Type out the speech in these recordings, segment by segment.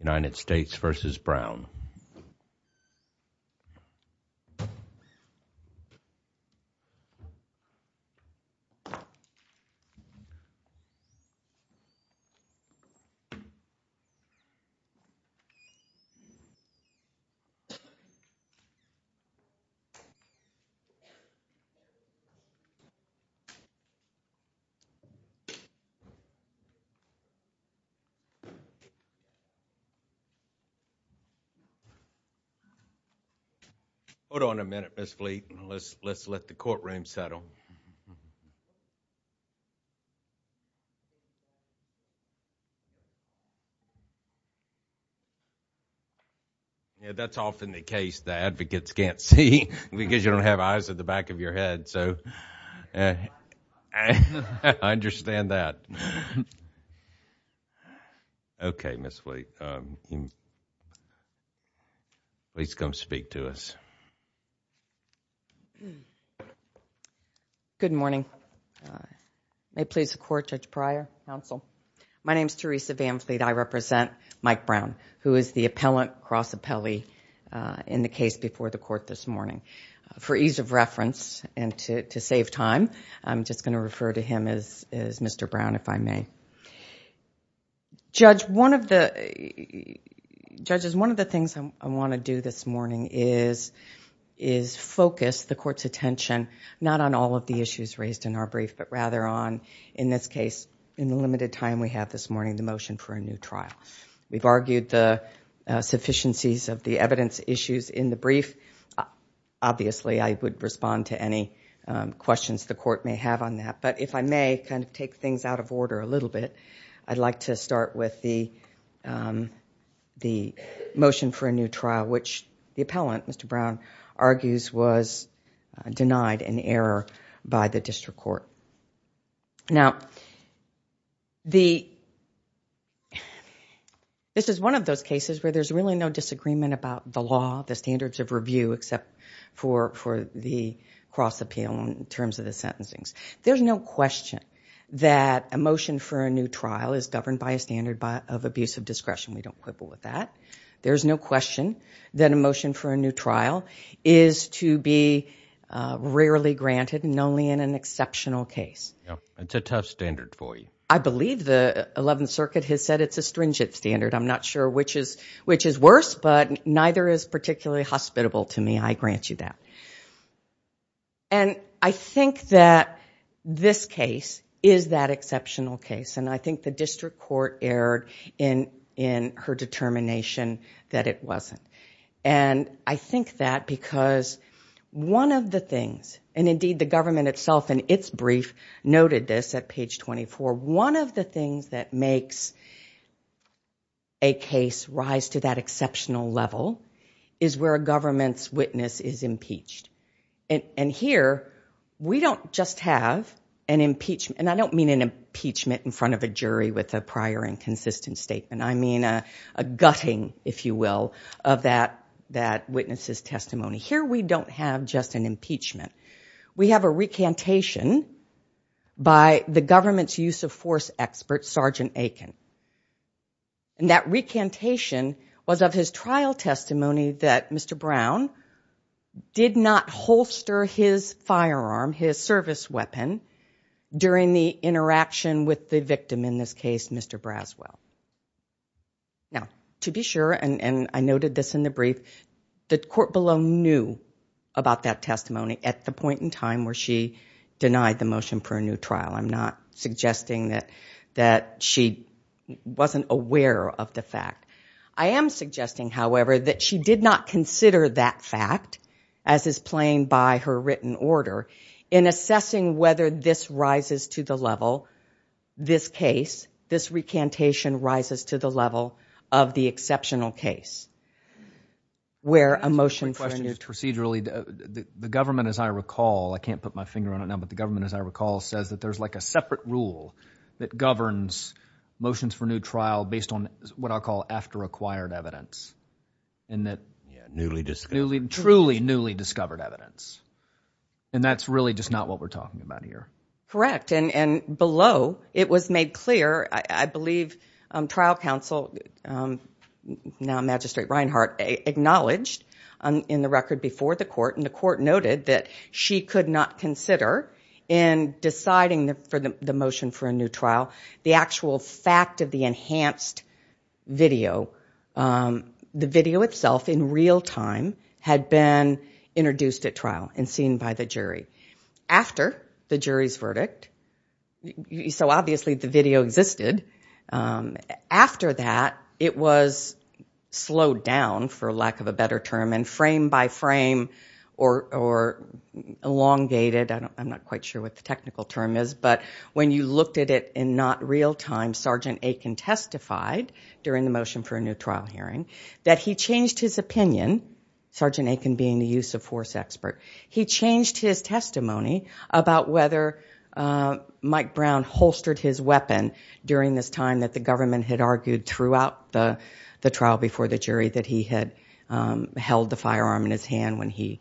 United States v. Brown Hold on a minute, Ms. Fleet. Let's let the courtroom settle. Yeah, that's often the case that advocates can't see because you don't have eyes at the podium. Okay, Ms. Fleet. Please come speak to us. Good morning. May it please the Court, Judge Pryor, Counsel. My name is Teresa Van Fleet. I represent Mike Brown, who is the Appellant, Cross Appellee in the case before the Court this morning. For ease of reference and to save time, I'm just going to refer to him as Mr. Brown, if I may. Judges, one of the things I want to do this morning is focus the Court's attention not on all of the issues raised in our brief, but rather on, in this case, in the limited time we have this morning, the motion for a new trial. We've argued the sufficiencies of the evidence issues in the brief. Obviously, I would respond to any questions the Court may have on that, but if I may take things out of order a little bit, I'd like to start with the motion for a new trial, which the Appellant, Mr. Brown, argues was denied in error by the District Court. Now, this is one of those cases where there's really no disagreement about the law, the standards of review, except for the cross appeal in terms of the sentencing. There's no question that a motion for a new trial is governed by a standard of abuse of discretion. We don't quibble with that. There's no question that a motion for a new trial is to be rarely granted, and only in an exceptional case. It's a tough standard for you. I believe the Eleventh Circuit has said it's a stringent standard. I'm not sure which is worse, but neither is particularly hospitable to me. I grant you that. I think that this case is that exceptional case, and I think the District Court erred in her determination that it wasn't. I think that because one of the things, and indeed the government itself and its brief noted this at page 24, one of the things that makes a case rise to that exceptional level is where a government's witness is impeached. Here, we don't just have an impeachment, and I don't mean an impeachment in front of a jury with a prior and consistent statement. I mean a gutting, if you will, of that witness's testimony. Here, we don't have just an impeachment. We have a recantation by the government's use of force expert, Sergeant Aiken. That recantation was of his trial testimony that Mr. Brown did not holster his firearm, his service weapon, during the interaction with the victim, in this case, Mr. Braswell. Now, to be sure, and I noted this in the brief, the court below knew about that testimony at the point in time where she denied the motion for a new trial. I'm not suggesting that she wasn't aware of the fact. I am suggesting, however, that she did not consider that fact, as is plain by her written order, in assessing whether this rises to the level, this case, this recantation rises to the level of the exceptional case, where a motion for a new trial... My question is procedurally. The government, as I recall, I can't put my finger on it now, but the government, as I recall, says that there's like a separate rule that governs motions for a new trial based on what I'll call after-acquired evidence, and that... Newly discovered. Truly newly discovered evidence, and that's really just not what we're talking about here. Correct, and below it was made clear, I believe, trial counsel, now Magistrate Reinhart, acknowledged in the record before the court, and the court noted that she could not consider in deciding for the motion for a new trial, the actual fact of the enhanced video. The video itself, in real time, had been introduced at trial and seen by the jury. After the jury's verdict, so obviously the video existed, after that it was slowed down, for lack of a better term, and frame by frame or elongated, I'm not quite sure what the technical term is, but when you looked at it in not real time, Sergeant Aiken testified during the motion for a new trial hearing, that he changed his opinion, Sergeant Aiken being the use of force expert. He changed his testimony about whether Mike Brown holstered his weapon during this time that the government had argued throughout the trial before the jury that he had held the firearm in his hand when he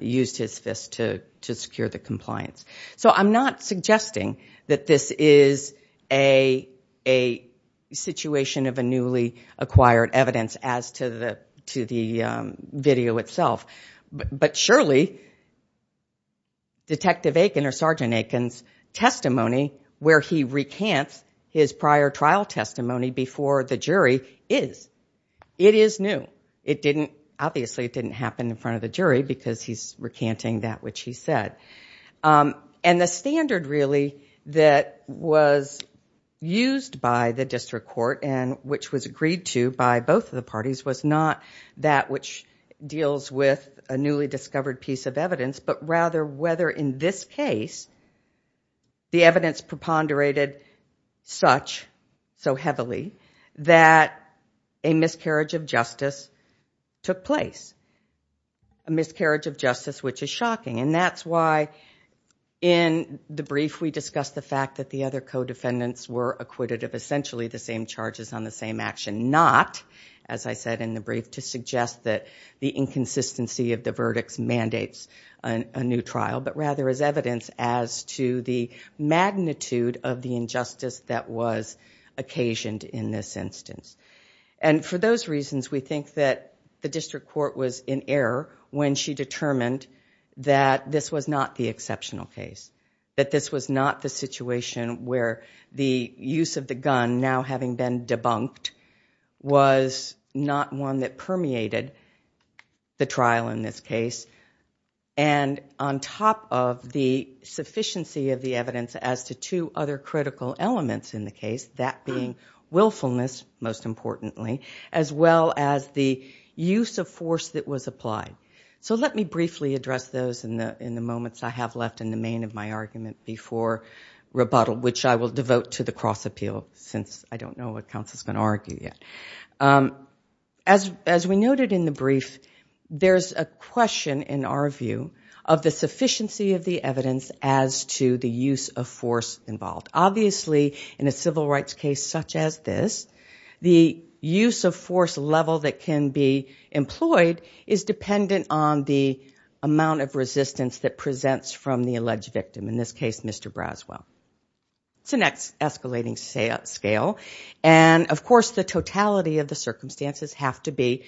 used his fist to secure the compliance. So I'm not suggesting that this is a situation of a newly acquired evidence as to the video, but surely, Detective Aiken or Sergeant Aiken's testimony where he recants his prior trial testimony before the jury is. It is new. It didn't, obviously it didn't happen in front of the jury because he's recanting that which he said. And the standard really that was used by the district court and which was agreed to by both of the parties was not that which deals with a newly discovered piece of evidence, but rather whether in this case the evidence preponderated such, so heavily, that a miscarriage of justice took place, a miscarriage of justice which is shocking. And that's why in the brief we discussed the fact that the other co-defendants were acquitted of essentially the same charges on the same action, not, as I said in the brief, to suggest that the inconsistency of the verdicts mandates a new trial, but rather as evidence as to the magnitude of the injustice that was occasioned in this instance. And for those reasons, we think that the district court was in error when she determined that this was not the exceptional case, that this was not the situation where the use of the gun, now having been debunked, was not one that permeated the trial in this case. And on top of the sufficiency of the evidence as to two other critical elements in the case, that being willfulness, most importantly, as well as the use of force that was applied. So let me briefly address those in the moments I have left in the main of my argument before rebuttal, which I will devote to the cross-appeal, since I don't know what counsel's going to argue yet. As we noted in the brief, there's a question, in our view, of the sufficiency of the evidence as to the use of force involved. Obviously, in a civil rights case such as this, the use of force level that can be employed is dependent on the amount of resistance that presents from the alleged victim. In this case, Mr. Braswell. It's an escalating scale, and of course the totality of the circumstances have to be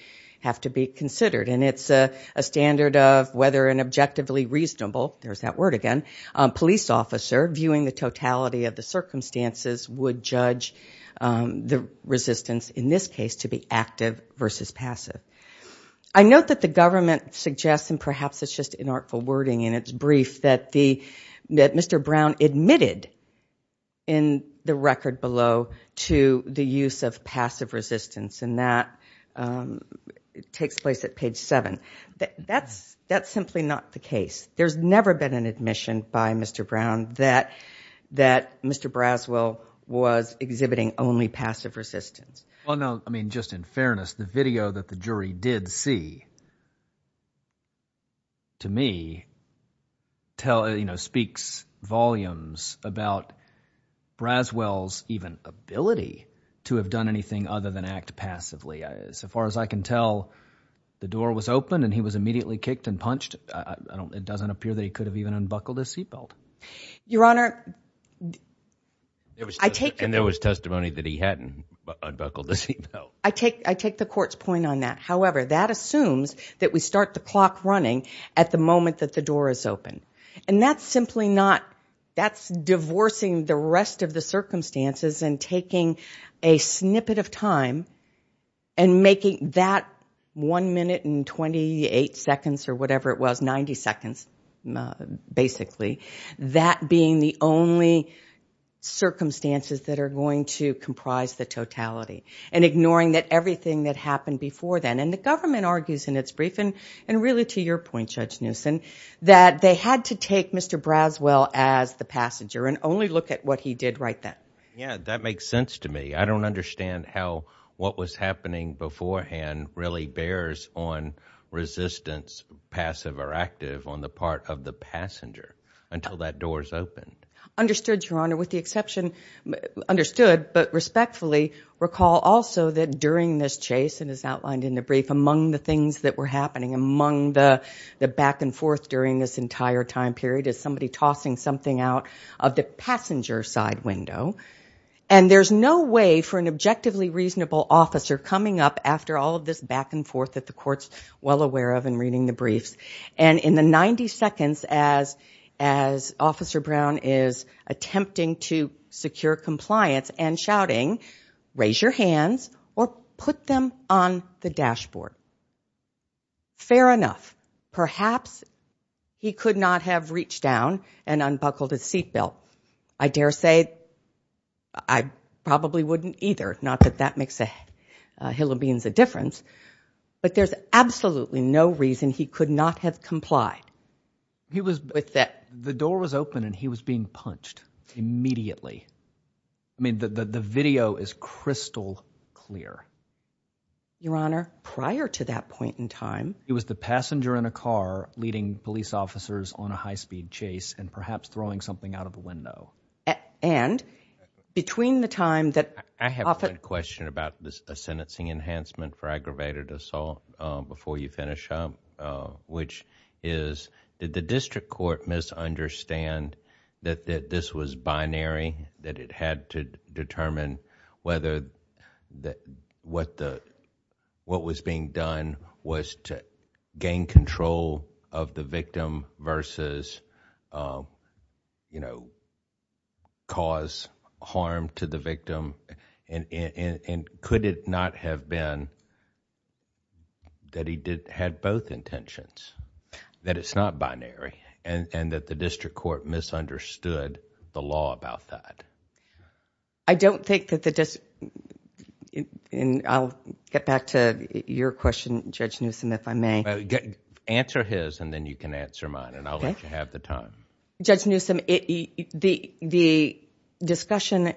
considered. And it's a standard of whether an objectively reasonable, there's that word again, police officer viewing the totality of the circumstances would judge the resistance, in this case, to be active versus passive. I note that the government suggests, and perhaps it's just an artful wording in its brief, that Mr. Brown admitted in the record below to the use of passive resistance. And that takes place at page seven. That's simply not the case. There's never been an admission by Mr. Brown that Mr. Braswell was passive. The video that the jury did see, to me, speaks volumes about Braswell's even ability to have done anything other than act passively. As far as I can tell, the door was open and he was immediately kicked and punched. It doesn't appear that he could have even unbuckled his seatbelt. Your Honor, I take... And there was testimony that he hadn't unbuckled his seatbelt. I take the court's point on that. However, that assumes that we start the clock running at the moment that the door is open. And that's simply not, that's divorcing the rest of the circumstances and taking a snippet of time and making that one minute and 28 seconds or whatever it was, 90 seconds, basically, that being the only circumstances that are going to comprise the totality. And ignoring that everything that happened before then. And the government argues in its briefing, and really to your point, Judge Newsom, that they had to take Mr. Braswell as the passenger and only look at what he did right then. Yeah, that makes sense to me. I don't understand how what was happening beforehand really bears on resistance, passive or active, on the part of the passenger until that door is opened. Understood, Your Honor, with the exception, understood, but respectfully recall also that during this chase, and as outlined in the brief, among the things that were happening, among the back and forth during this entire time period is somebody tossing something out of the passenger side window. And there's no way for an objectively reasonable officer coming up after all of this back and forth that the court's well aware of in reading the briefs. And in the 90 seconds as Officer Brown is attempting to secure compliance and shouting, raise your hands or put them on the dashboard. Fair enough. Perhaps he could not have reached down and unbuckled his seat belt. I dare say I probably wouldn't either. Not that that makes a hill of beans a difference, but there's absolutely no reason he could not have complied with that. The door was open and he was being punched immediately. I mean, the video is crystal clear. Your Honor, prior to that point in time, it was the passenger in a car leading police officers on a high speed chase and perhaps throwing something out of the window. I have a question about a sentencing enhancement for aggravated assault before you finish up, which is, did the district court misunderstand that this was binary, that it had to determine whether what was being done was to gain control of the victim versus, you know, cause harm to the victim and could it not have been that he had both intentions, that it's not binary and that the district court misunderstood the law about that? I don't think that the... and I'll get back to your question, Judge Newsom, if I may. Answer his and then you can answer mine and I'll let you have the time. Judge Newsom, the discussion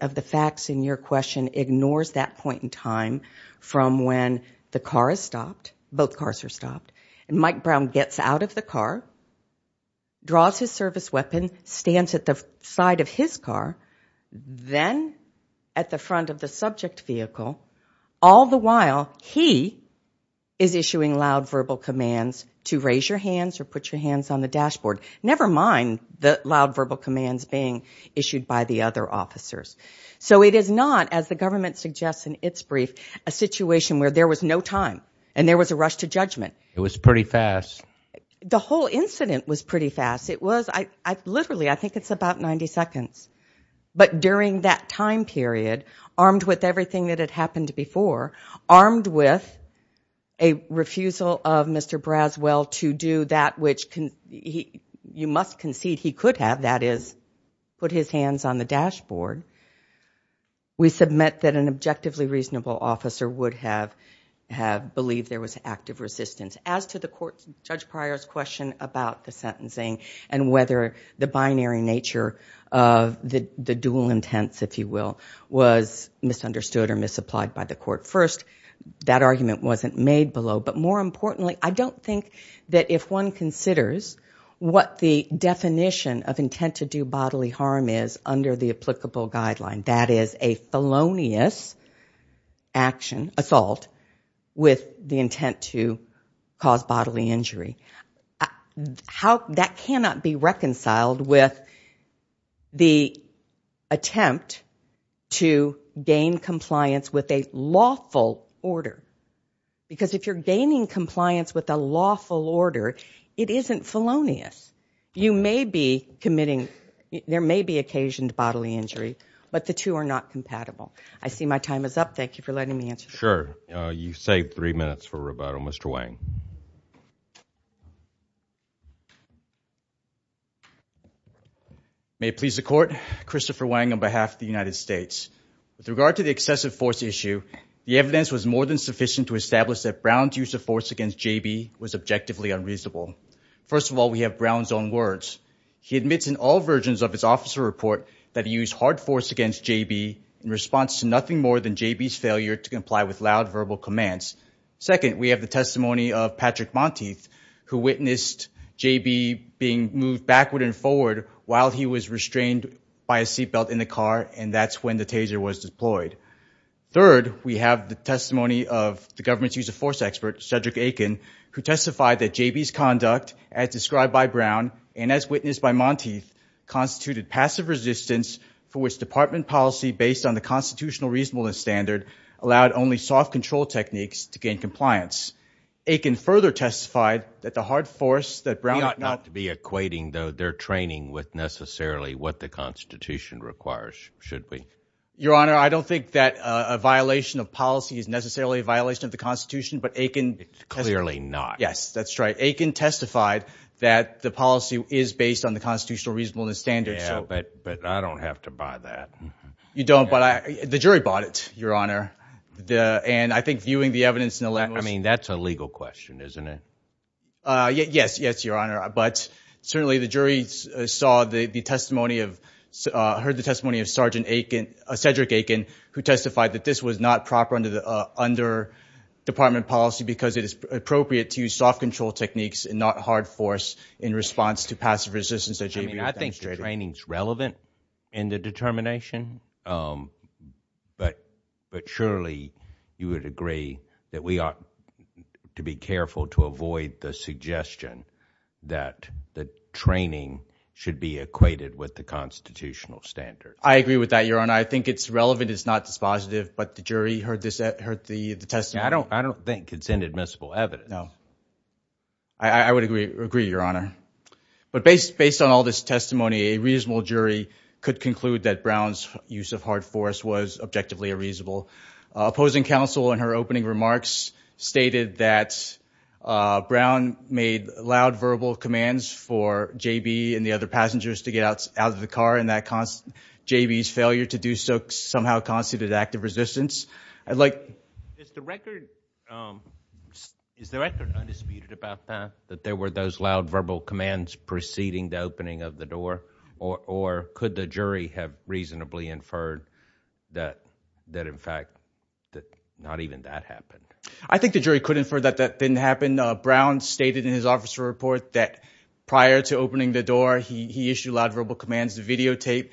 of the facts in your question ignores that point in time from when the car is stopped, both cars are stopped, and Mike Brown gets out of the car, draws his service weapon, stands at the side of his car, then at the front of the subject vehicle. All the while he is issuing loud verbal commands to raise your hands or put your hands on the dashboard. Never mind the loud verbal commands being issued by the other officers. So it is not, as the government suggests in its brief, a situation where there was no time and there was a rush to judgment. It was pretty fast. The whole incident was pretty fast. Literally, I think it's about 90 seconds. But during that time period, armed with everything that had happened before, armed with a refusal of Mr. Braswell to do that which you must concede he could have, that is, put his hands on the dashboard, we submit that an objectively reasonable officer would have believed there was active resistance. As to the court's, Judge Pryor's question about the sentencing and whether the binary nature of the dual intents, if you will, was misunderstood or misapplied by the court. First, that argument wasn't made below, but more importantly, I don't think that if one considers what the definition of intent to do bodily harm is under the applicable guideline, that is a felonious action, assault, with the intent to cause bodily injury. That cannot be reconciled with the attempt to gain compliance with a lawful order. Because if you're gaining compliance with a lawful order, it isn't felonious. You may be committing, there may be occasioned bodily injury, but the two are not compatible. I see my time is up. Thank you for letting me answer. May it please the Court, Christopher Wang on behalf of the United States. With regard to the excessive force issue, the evidence was more than sufficient to establish that Brown's use of force against J.B. was objectively unreasonable. First of all, we have Brown's own words. He admits in all versions of his officer report that he used hard force against J.B. in response to nothing more than J.B.'s failure to comply with loud verbal commands. Second, we have the testimony of Patrick Monteith, who witnessed J.B. being moved backward and forward while he was restrained by a seat belt in the car, and that's when the taser was deployed. Third, we have the testimony of the government's use of force expert, Cedric Aiken, who testified that J.B.'s conduct, as described by Brown and as witnessed by Monteith, constituted passive resistance for which department policy based on the constitutional reasonableness standard allowed only soft control techniques to gain compliance. Aiken further testified that the hard force that Brown had not... We ought not to be equating, though, their training with necessarily what the Constitution requires, should we? Your Honor, I don't think that a violation of policy is necessarily a violation of the Constitution, but Aiken... Yeah, but I don't have to buy that. You don't, but the jury bought it, Your Honor, and I think viewing the evidence... I mean, that's a legal question, isn't it? Yes, Your Honor, but certainly the jury saw the testimony of... heard the testimony of Cedric Aiken, who testified that this was not proper under department policy because it is appropriate to use soft control techniques and not hard force in response to passive resistance... I mean, I think the training's relevant in the determination, but surely you would agree that we ought to be careful to avoid the suggestion that the training should be equated with the constitutional standards. I agree with that, Your Honor. I think it's relevant. It's not dispositive, but the jury heard the testimony... I don't think it's inadmissible evidence. I would agree, Your Honor, but based on all this testimony, a reasonable jury could conclude that Brown's use of hard force was objectively unreasonable. Opposing counsel in her opening remarks stated that Brown made loud verbal commands for J.B. and the other passengers to get out of the car and that J.B.'s failure to do so somehow constituted active resistance. Is the record undisputed about that, that there were those loud verbal commands preceding the opening of the door, or could the jury have reasonably inferred that, in fact, not even that happened? I think the jury could infer that that didn't happen. Brown stated in his officer report that prior to opening the door, he issued loud verbal commands. The videotape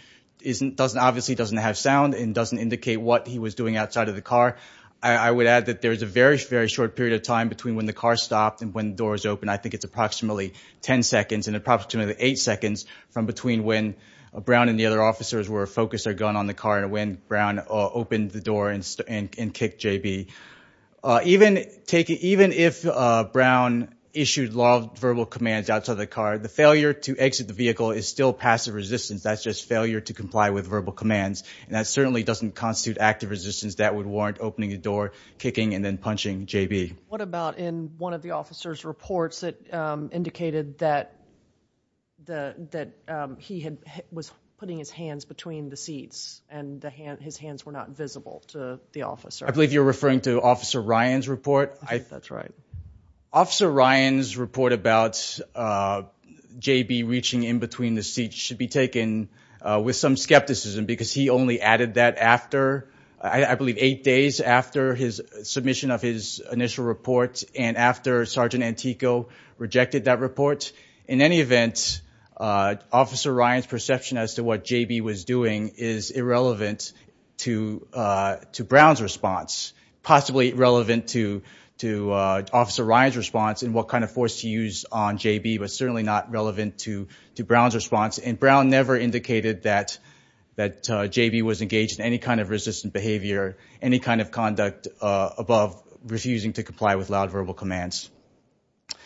obviously doesn't have sound and doesn't indicate what he was doing outside of the car. I would add that there is a very, very short period of time between when the car stopped and when the door was opened. I think it's approximately 10 seconds and approximately 8 seconds from between when Brown and the other officers were focused their gun on the car and when Brown opened the door and kicked J.B. Even if Brown issued loud verbal commands outside of the car, the failure to exit the vehicle is still passive resistance. That's just failure to comply with verbal commands, and that certainly doesn't constitute active resistance. That would warrant opening the door, kicking, and then punching J.B. What about in one of the officer's reports that indicated that he was putting his hands between the seats I believe you're referring to Officer Ryan's report. Officer Ryan's report about J.B. reaching in between the seats should be taken with some skepticism, because he only added that after, I believe, eight days after his submission of his initial report and after Sergeant Antico rejected that report. In any event, Officer Ryan's perception as to what J.B. was doing is irrelevant to Brown's response. Possibly relevant to Officer Ryan's response and what kind of force he used on J.B., but certainly not relevant to Brown's response. And Brown never indicated that J.B. was engaged in any kind of resistant behavior, any kind of conduct above refusing to comply with loud verbal commands.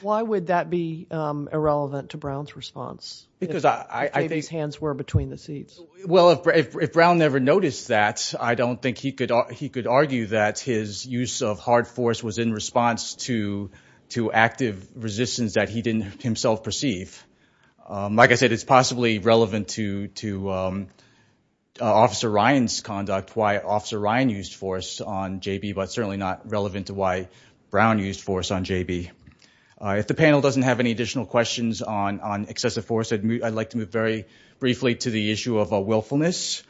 Why would that be irrelevant to Brown's response, if J.B.'s hands were between the seats? Well, if Brown never noticed that, I don't think he could argue that his use of hard force was in response to active resistance that he didn't himself perceive. Like I said, it's possibly relevant to Officer Ryan's conduct, why Officer Ryan used force on J.B., but certainly not relevant to why Brown used force on J.B. If the panel doesn't have any additional questions on excessive force, I'd like to move very briefly to the issue of willfulness.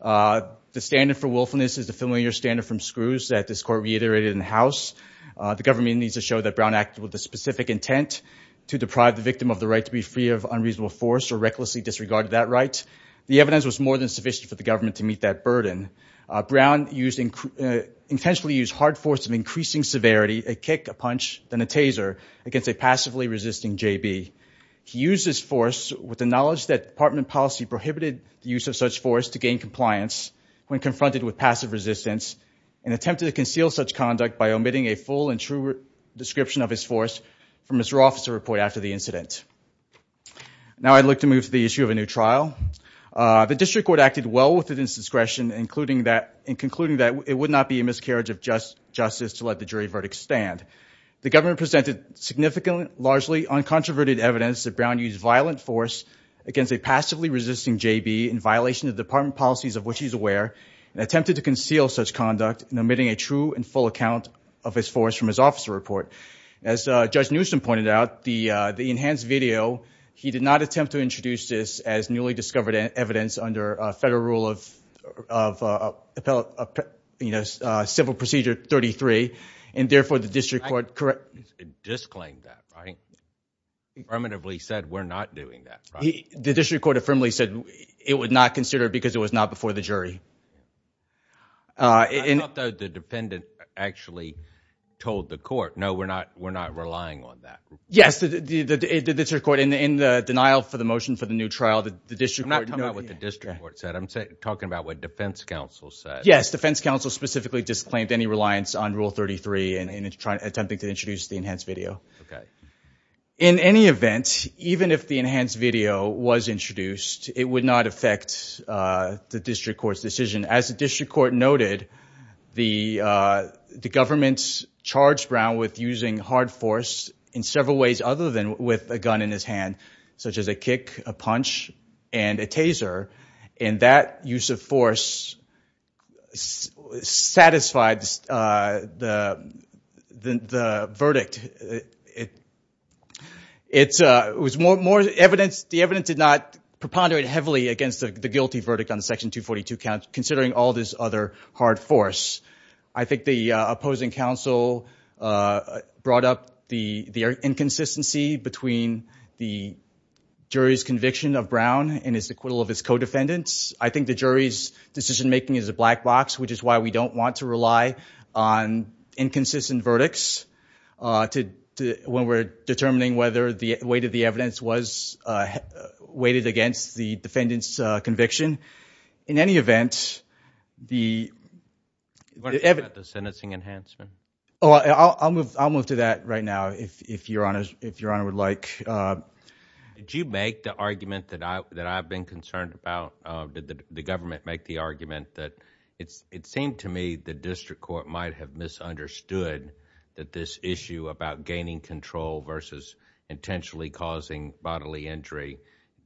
The standard for willfulness is the familiar standard from Screws that this court reiterated in the House. The government needs to show that Brown acted with a specific intent to deprive the victim of the right to be free of unreasonable force or recklessly disregard that right. The evidence was more than sufficient for the government to meet that burden. Brown intentionally used hard force of increasing severity, a kick, a punch, then a taser against a passively resisting J.B. He used this force with the knowledge that department policy prohibited the use of such force to gain compliance when confronted with passive resistance and attempted to conceal such conduct by omitting a full and true description of his force from his officer report after the incident. Now I'd like to move to the issue of a new trial. The district court acted well within its discretion in concluding that it would not be a miscarriage of justice to let the jury verdict stand. The government presented significant, largely uncontroverted evidence that Brown used violent force against a passively resisting J.B. in violation of department policies of which he is aware and attempted to conceal such conduct in omitting a true and full account of his force from his officer report. As Judge Newsom pointed out, the enhanced video, he did not attempt to introduce this as newly discovered evidence under federal rule of civil procedure 33, and therefore the district court disclaimed that, right? He affirmatively said we're not doing that. The district court affirmatively said it would not consider it because it was not before the jury. We're not relying on that. Yes, the district court, in the denial for the motion for the new trial, the district court noted... I'm not talking about what the district court said. I'm talking about what defense counsel said. Yes, defense counsel specifically disclaimed any reliance on rule 33 in attempting to introduce the enhanced video. In any event, even if the enhanced video was introduced, it would not affect the district court's decision. As the district court noted, the government charged Brown with using hard force in several ways other than with a gun in his hand, such as a kick, a punch, and a taser, and that use of force satisfied the verdict. It was more evidence. The evidence did not preponderate heavily against the guilty verdict on Section 242, considering all this other hard force. I think the opposing counsel brought up the inconsistency between the jury's conviction of Brown and his acquittal of his co-defendants. I think the jury's decision-making is a black box, which is why we don't want to rely on inconsistent verdicts when we're determining whether the weight of the evidence was weighted against the defendant's conviction. In any event, the evidence... I'll move to that right now, if Your Honor would like. Did you make the argument that I've been concerned about? Did the government make the argument that it seemed to me the district court might have misunderstood that this issue about gaining control versus intentionally causing bodily injury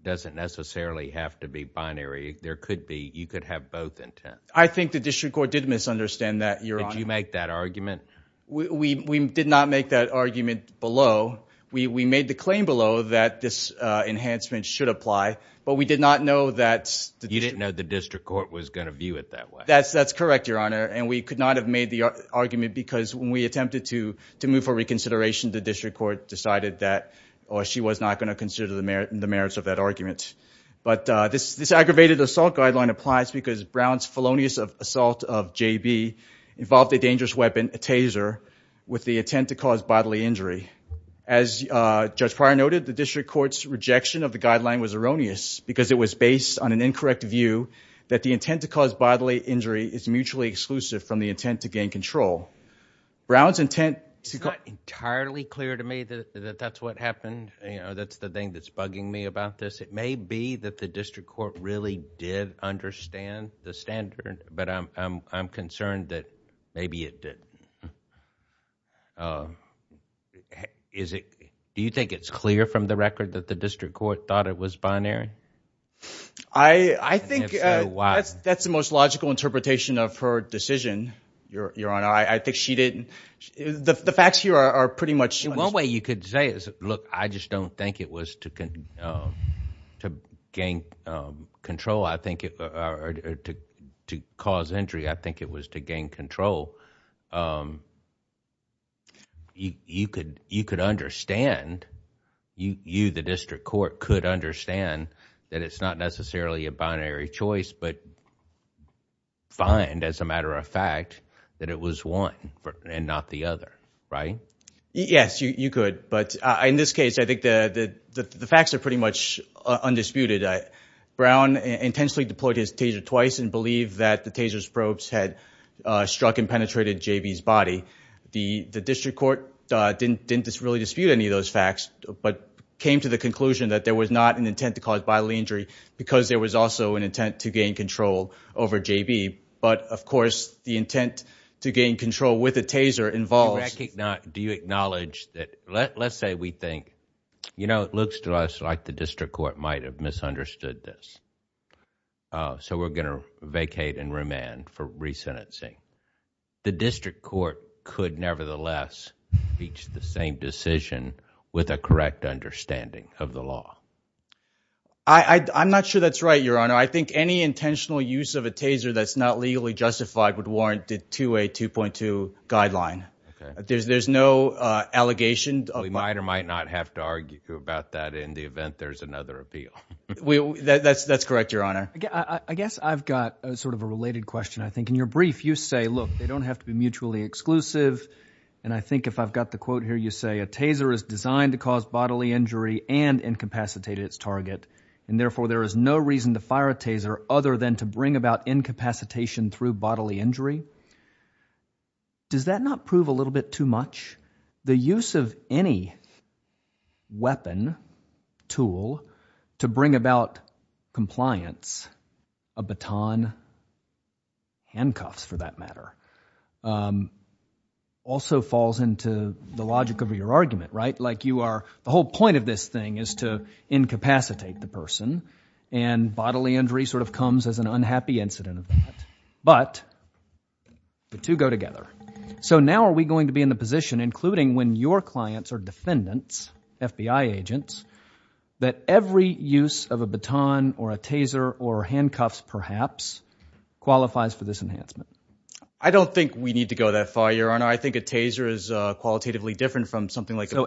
doesn't necessarily have to be binary? You could have both intents. I think the district court did misunderstand that, Your Honor. Did you make that argument? We did not make that argument below. We made the claim below that this enhancement should apply, but we did not know... You didn't know the district court was going to view it that way. That's correct, Your Honor, and we could not have made the argument because when we attempted to move for reconsideration, the district court decided that she was not going to consider the merits of that argument. This aggravated assault guideline applies because Brown's felonious assault of J.B. involved a dangerous weapon, a taser, with the intent to cause bodily injury. As Judge Pryor noted, the district court's rejection of the guideline was erroneous because it was based on an incorrect view that the intent to cause bodily injury is mutually exclusive from the intent to gain control. It's not entirely clear to me that that's what happened. That's the thing that's bugging me about this. It may be that the district court really did understand the standard, but I'm concerned that maybe it did. Do you think it's clear from the record that the district court thought it was binary? I think that's the most logical interpretation of her decision, Your Honor. The facts here are pretty much... One way you could say is, look, I just don't think it was to gain control or to cause injury. I think it was to gain control. You, the district court, could understand that it's not necessarily a binary choice, but find, as a matter of fact, that it was one. And not the other, right? Yes, you could. But in this case, I think the facts are pretty much undisputed. Brown intentionally deployed his taser twice and believed that the taser's probes had struck and penetrated J.B.'s body. The district court didn't really dispute any of those facts, but came to the conclusion that there was not an intent to cause bodily injury because there was also an intent to gain control over J.B. But, of course, the intent to gain control with a taser involves... Do you acknowledge that... let's say we think, you know, it looks to us like the district court might have misunderstood this. So we're going to vacate and remand for resentencing. The district court could, nevertheless, reach the same decision with a correct understanding of the law. I'm not sure that's right, Your Honor. I think any intentional use of a taser that's not legally justified would warrant it to a 2.2 guideline. There's no allegation... We might or might not have to argue about that in the event there's another appeal. That's correct, Your Honor. I guess I've got sort of a related question, I think. In your brief, you say, look, they don't have to be mutually exclusive. And I think if I've got the quote here, you say a taser is designed to cause bodily injury and incapacitate its target. And, therefore, there is no reason to fire a taser other than to bring about incapacitation through bodily injury. Does that not prove a little bit too much? The use of any weapon, tool, to bring about compliance, a baton, handcuffs, for that matter, also falls into the logic of your argument, right? Like you are... the whole point of this thing is to incapacitate the person. And bodily injury sort of comes as an unhappy incident of that. But the two go together. So now are we going to be in the position, including when your clients are defendants, FBI agents, that every use of a baton or a taser or handcuffs, perhaps, qualifies for this enhancement? I don't think we need to go that far, Your Honor. I think a taser is qualitatively different from something like a baton.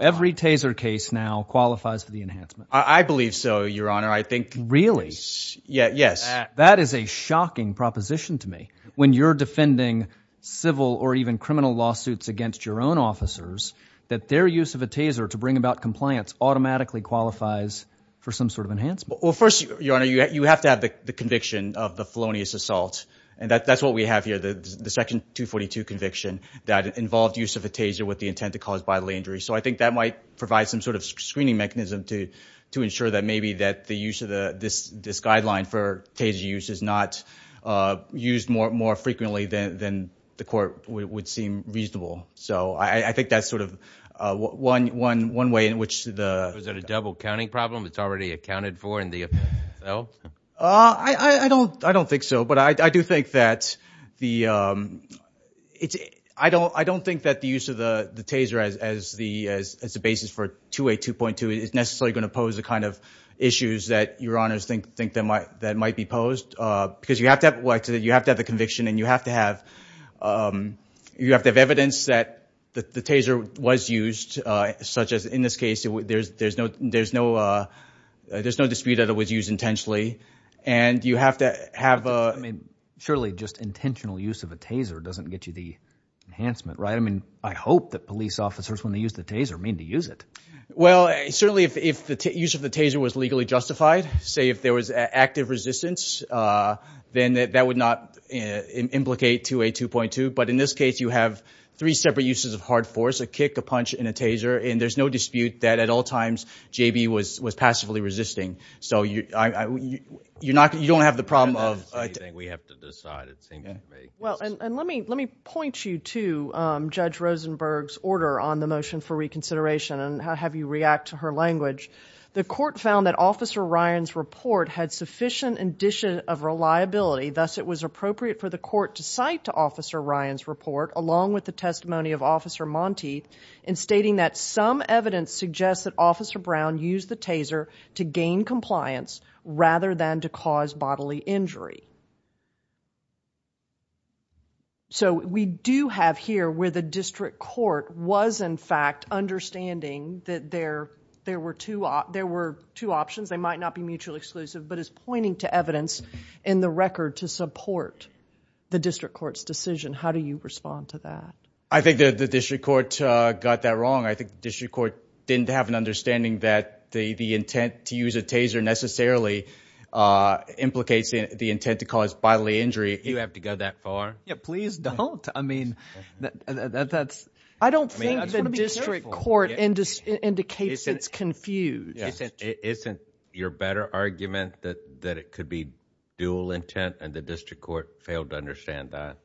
When you're defending civil or even criminal lawsuits against your own officers, that their use of a taser to bring about compliance automatically qualifies for some sort of enhancement. Well, first, Your Honor, you have to have the conviction of the felonious assault. And that's what we have here, the Section 242 conviction that involved use of a taser with the intent to cause bodily injury. So I think that might provide some sort of screening mechanism to ensure that maybe that the use of this guideline for taser use is not used more frequently than the court would seem reasonable. So I think that's sort of one way in which the ---- Was it a double-counting problem that's already accounted for in the offense itself? I don't think so. But I do think that the use of the taser as the basis for 282.2 is necessarily going to pose the kind of issues that Your Honors think that might be posed because you have to have the conviction and you have to have evidence that the taser was used, such as in this case there's no dispute that it was used intentionally. And you have to have a ---- Surely just intentional use of a taser doesn't get you the enhancement, right? I mean, I hope that police officers, when they use the taser, mean to use it. Well, certainly if the use of the taser was legally justified, say if there was active resistance, then that would not implicate 282.2. But in this case you have three separate uses of hard force, a kick, a punch, and a taser, and there's no dispute that at all times JB was passively resisting. So you don't have the problem of ---- Well, and let me point you to Judge Rosenberg's order on the motion for reconsideration and have you react to her language. The court found that Officer Ryan's report had sufficient indicia of reliability, thus it was appropriate for the court to cite Officer Ryan's report along with the testimony of Officer Monteith in stating that some evidence suggests that Officer Brown used the taser to gain compliance rather than to cause bodily injury. So we do have here where the district court was in fact understanding that there were two options. They might not be mutually exclusive, but it's pointing to evidence in the record to support the district court's decision. How do you respond to that? I think the district court got that wrong. I think the district court didn't have an understanding that the intent to use a taser necessarily implicates the intent to cause bodily injury. You have to go that far? Yeah, please don't. I don't think the district court indicates it's confused. Isn't your better argument that it could be dual intent and the district court failed to understand that?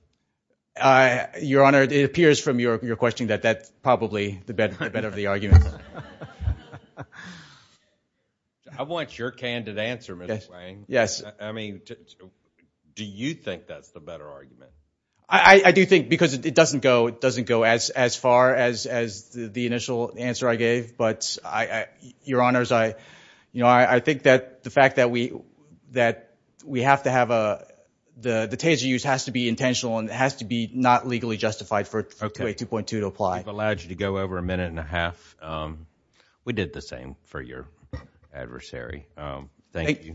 Your Honor, it appears from your question that that's probably the better of the arguments. I want your candid answer, Mr. Swain. Do you think that's the better argument? I do think because it doesn't go as far as the initial answer I gave. Your Honor, I think that the fact that we have to have the taser used has to be intentional and has to be not legally justified for 282.2 to apply. We've allowed you to go over a minute and a half. We did the same for your adversary. Thank you.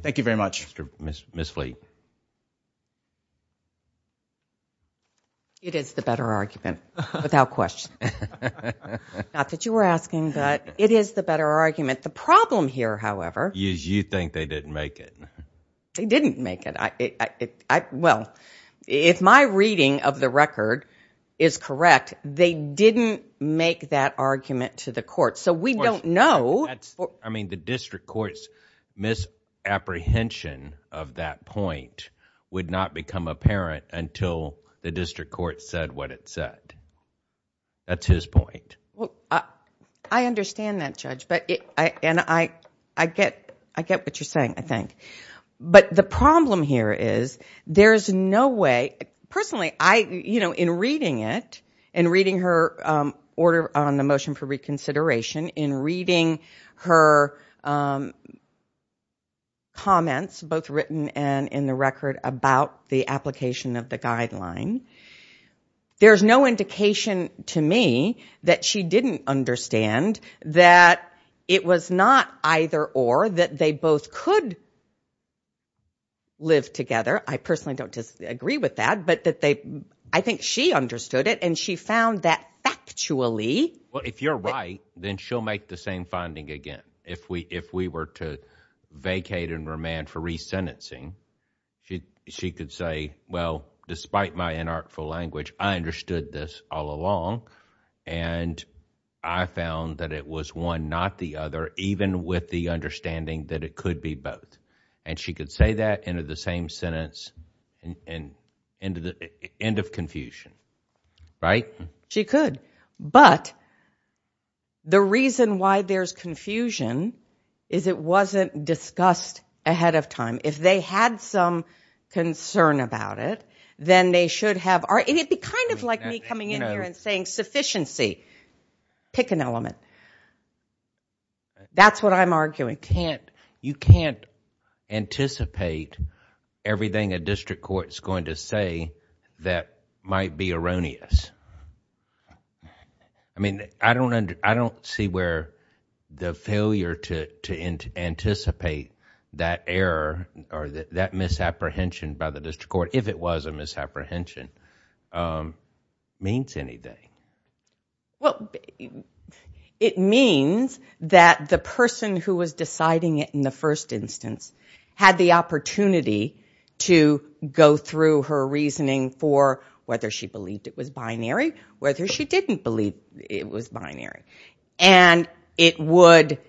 It is the better argument, without question. Not that you were asking, but it is the better argument. The problem here, however... I mean, the district court's misapprehension of that point would not become apparent until the district court said what it said. That's his point. I understand that, Judge. I get what you're saying, I think. But the problem here is there's no way... Personally, in reading it, in reading her order on the motion for reconsideration, in reading her comments, both written and in the record, about the application of the guideline, there's no indication to me that she didn't understand that it was not either or, that they both could live together. I personally don't disagree with that, but I think she understood it, and she found that factually... Well, if you're right, then she'll make the same finding again. If we were to vacate and remand for resentencing, she could say, well, despite my inartful language, I understood this all along, and I found that it was one, not the other, even with the understanding that it could be both. And she could say that in the same sentence, end of confusion, right? She could, but the reason why there's confusion is it wasn't discussed ahead of time. If they had some concern about it, then they should have... It would be kind of like me coming in here and saying, sufficiency, pick an element. That's what I'm arguing. You can't anticipate everything a district court is going to say that might be erroneous. I don't see where the failure to anticipate that error or that misapprehension by the district court, if it was a misapprehension, means anything. It means that the person who was deciding it in the first instance had the opportunity to go through her reasoning for whether she believed it was binary, whether she didn't believe it was binary. And it would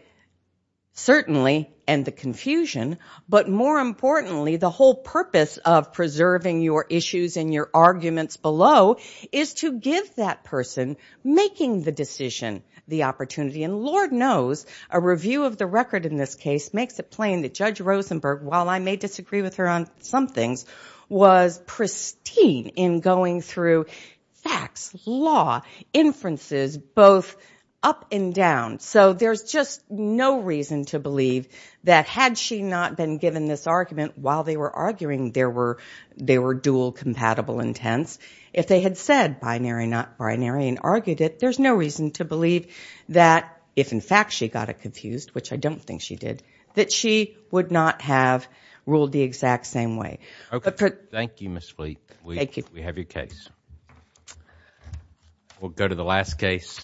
certainly end the confusion, but more importantly, the whole purpose of preserving your issues and your arguments below is to give that person making the decision the opportunity. And Lord knows, a review of the record in this case makes it plain that Judge Rosenberg, while I may disagree with her on some things, was pristine in going through facts, law, inferences, both up and down. So there's just no reason to believe that had she not been given this argument while they were arguing they were dual compatible intents, if they had said binary, not binary, and argued it, there's no reason to believe that if in fact she got it confused, which I don't think she did, that she would not have ruled the exact same way.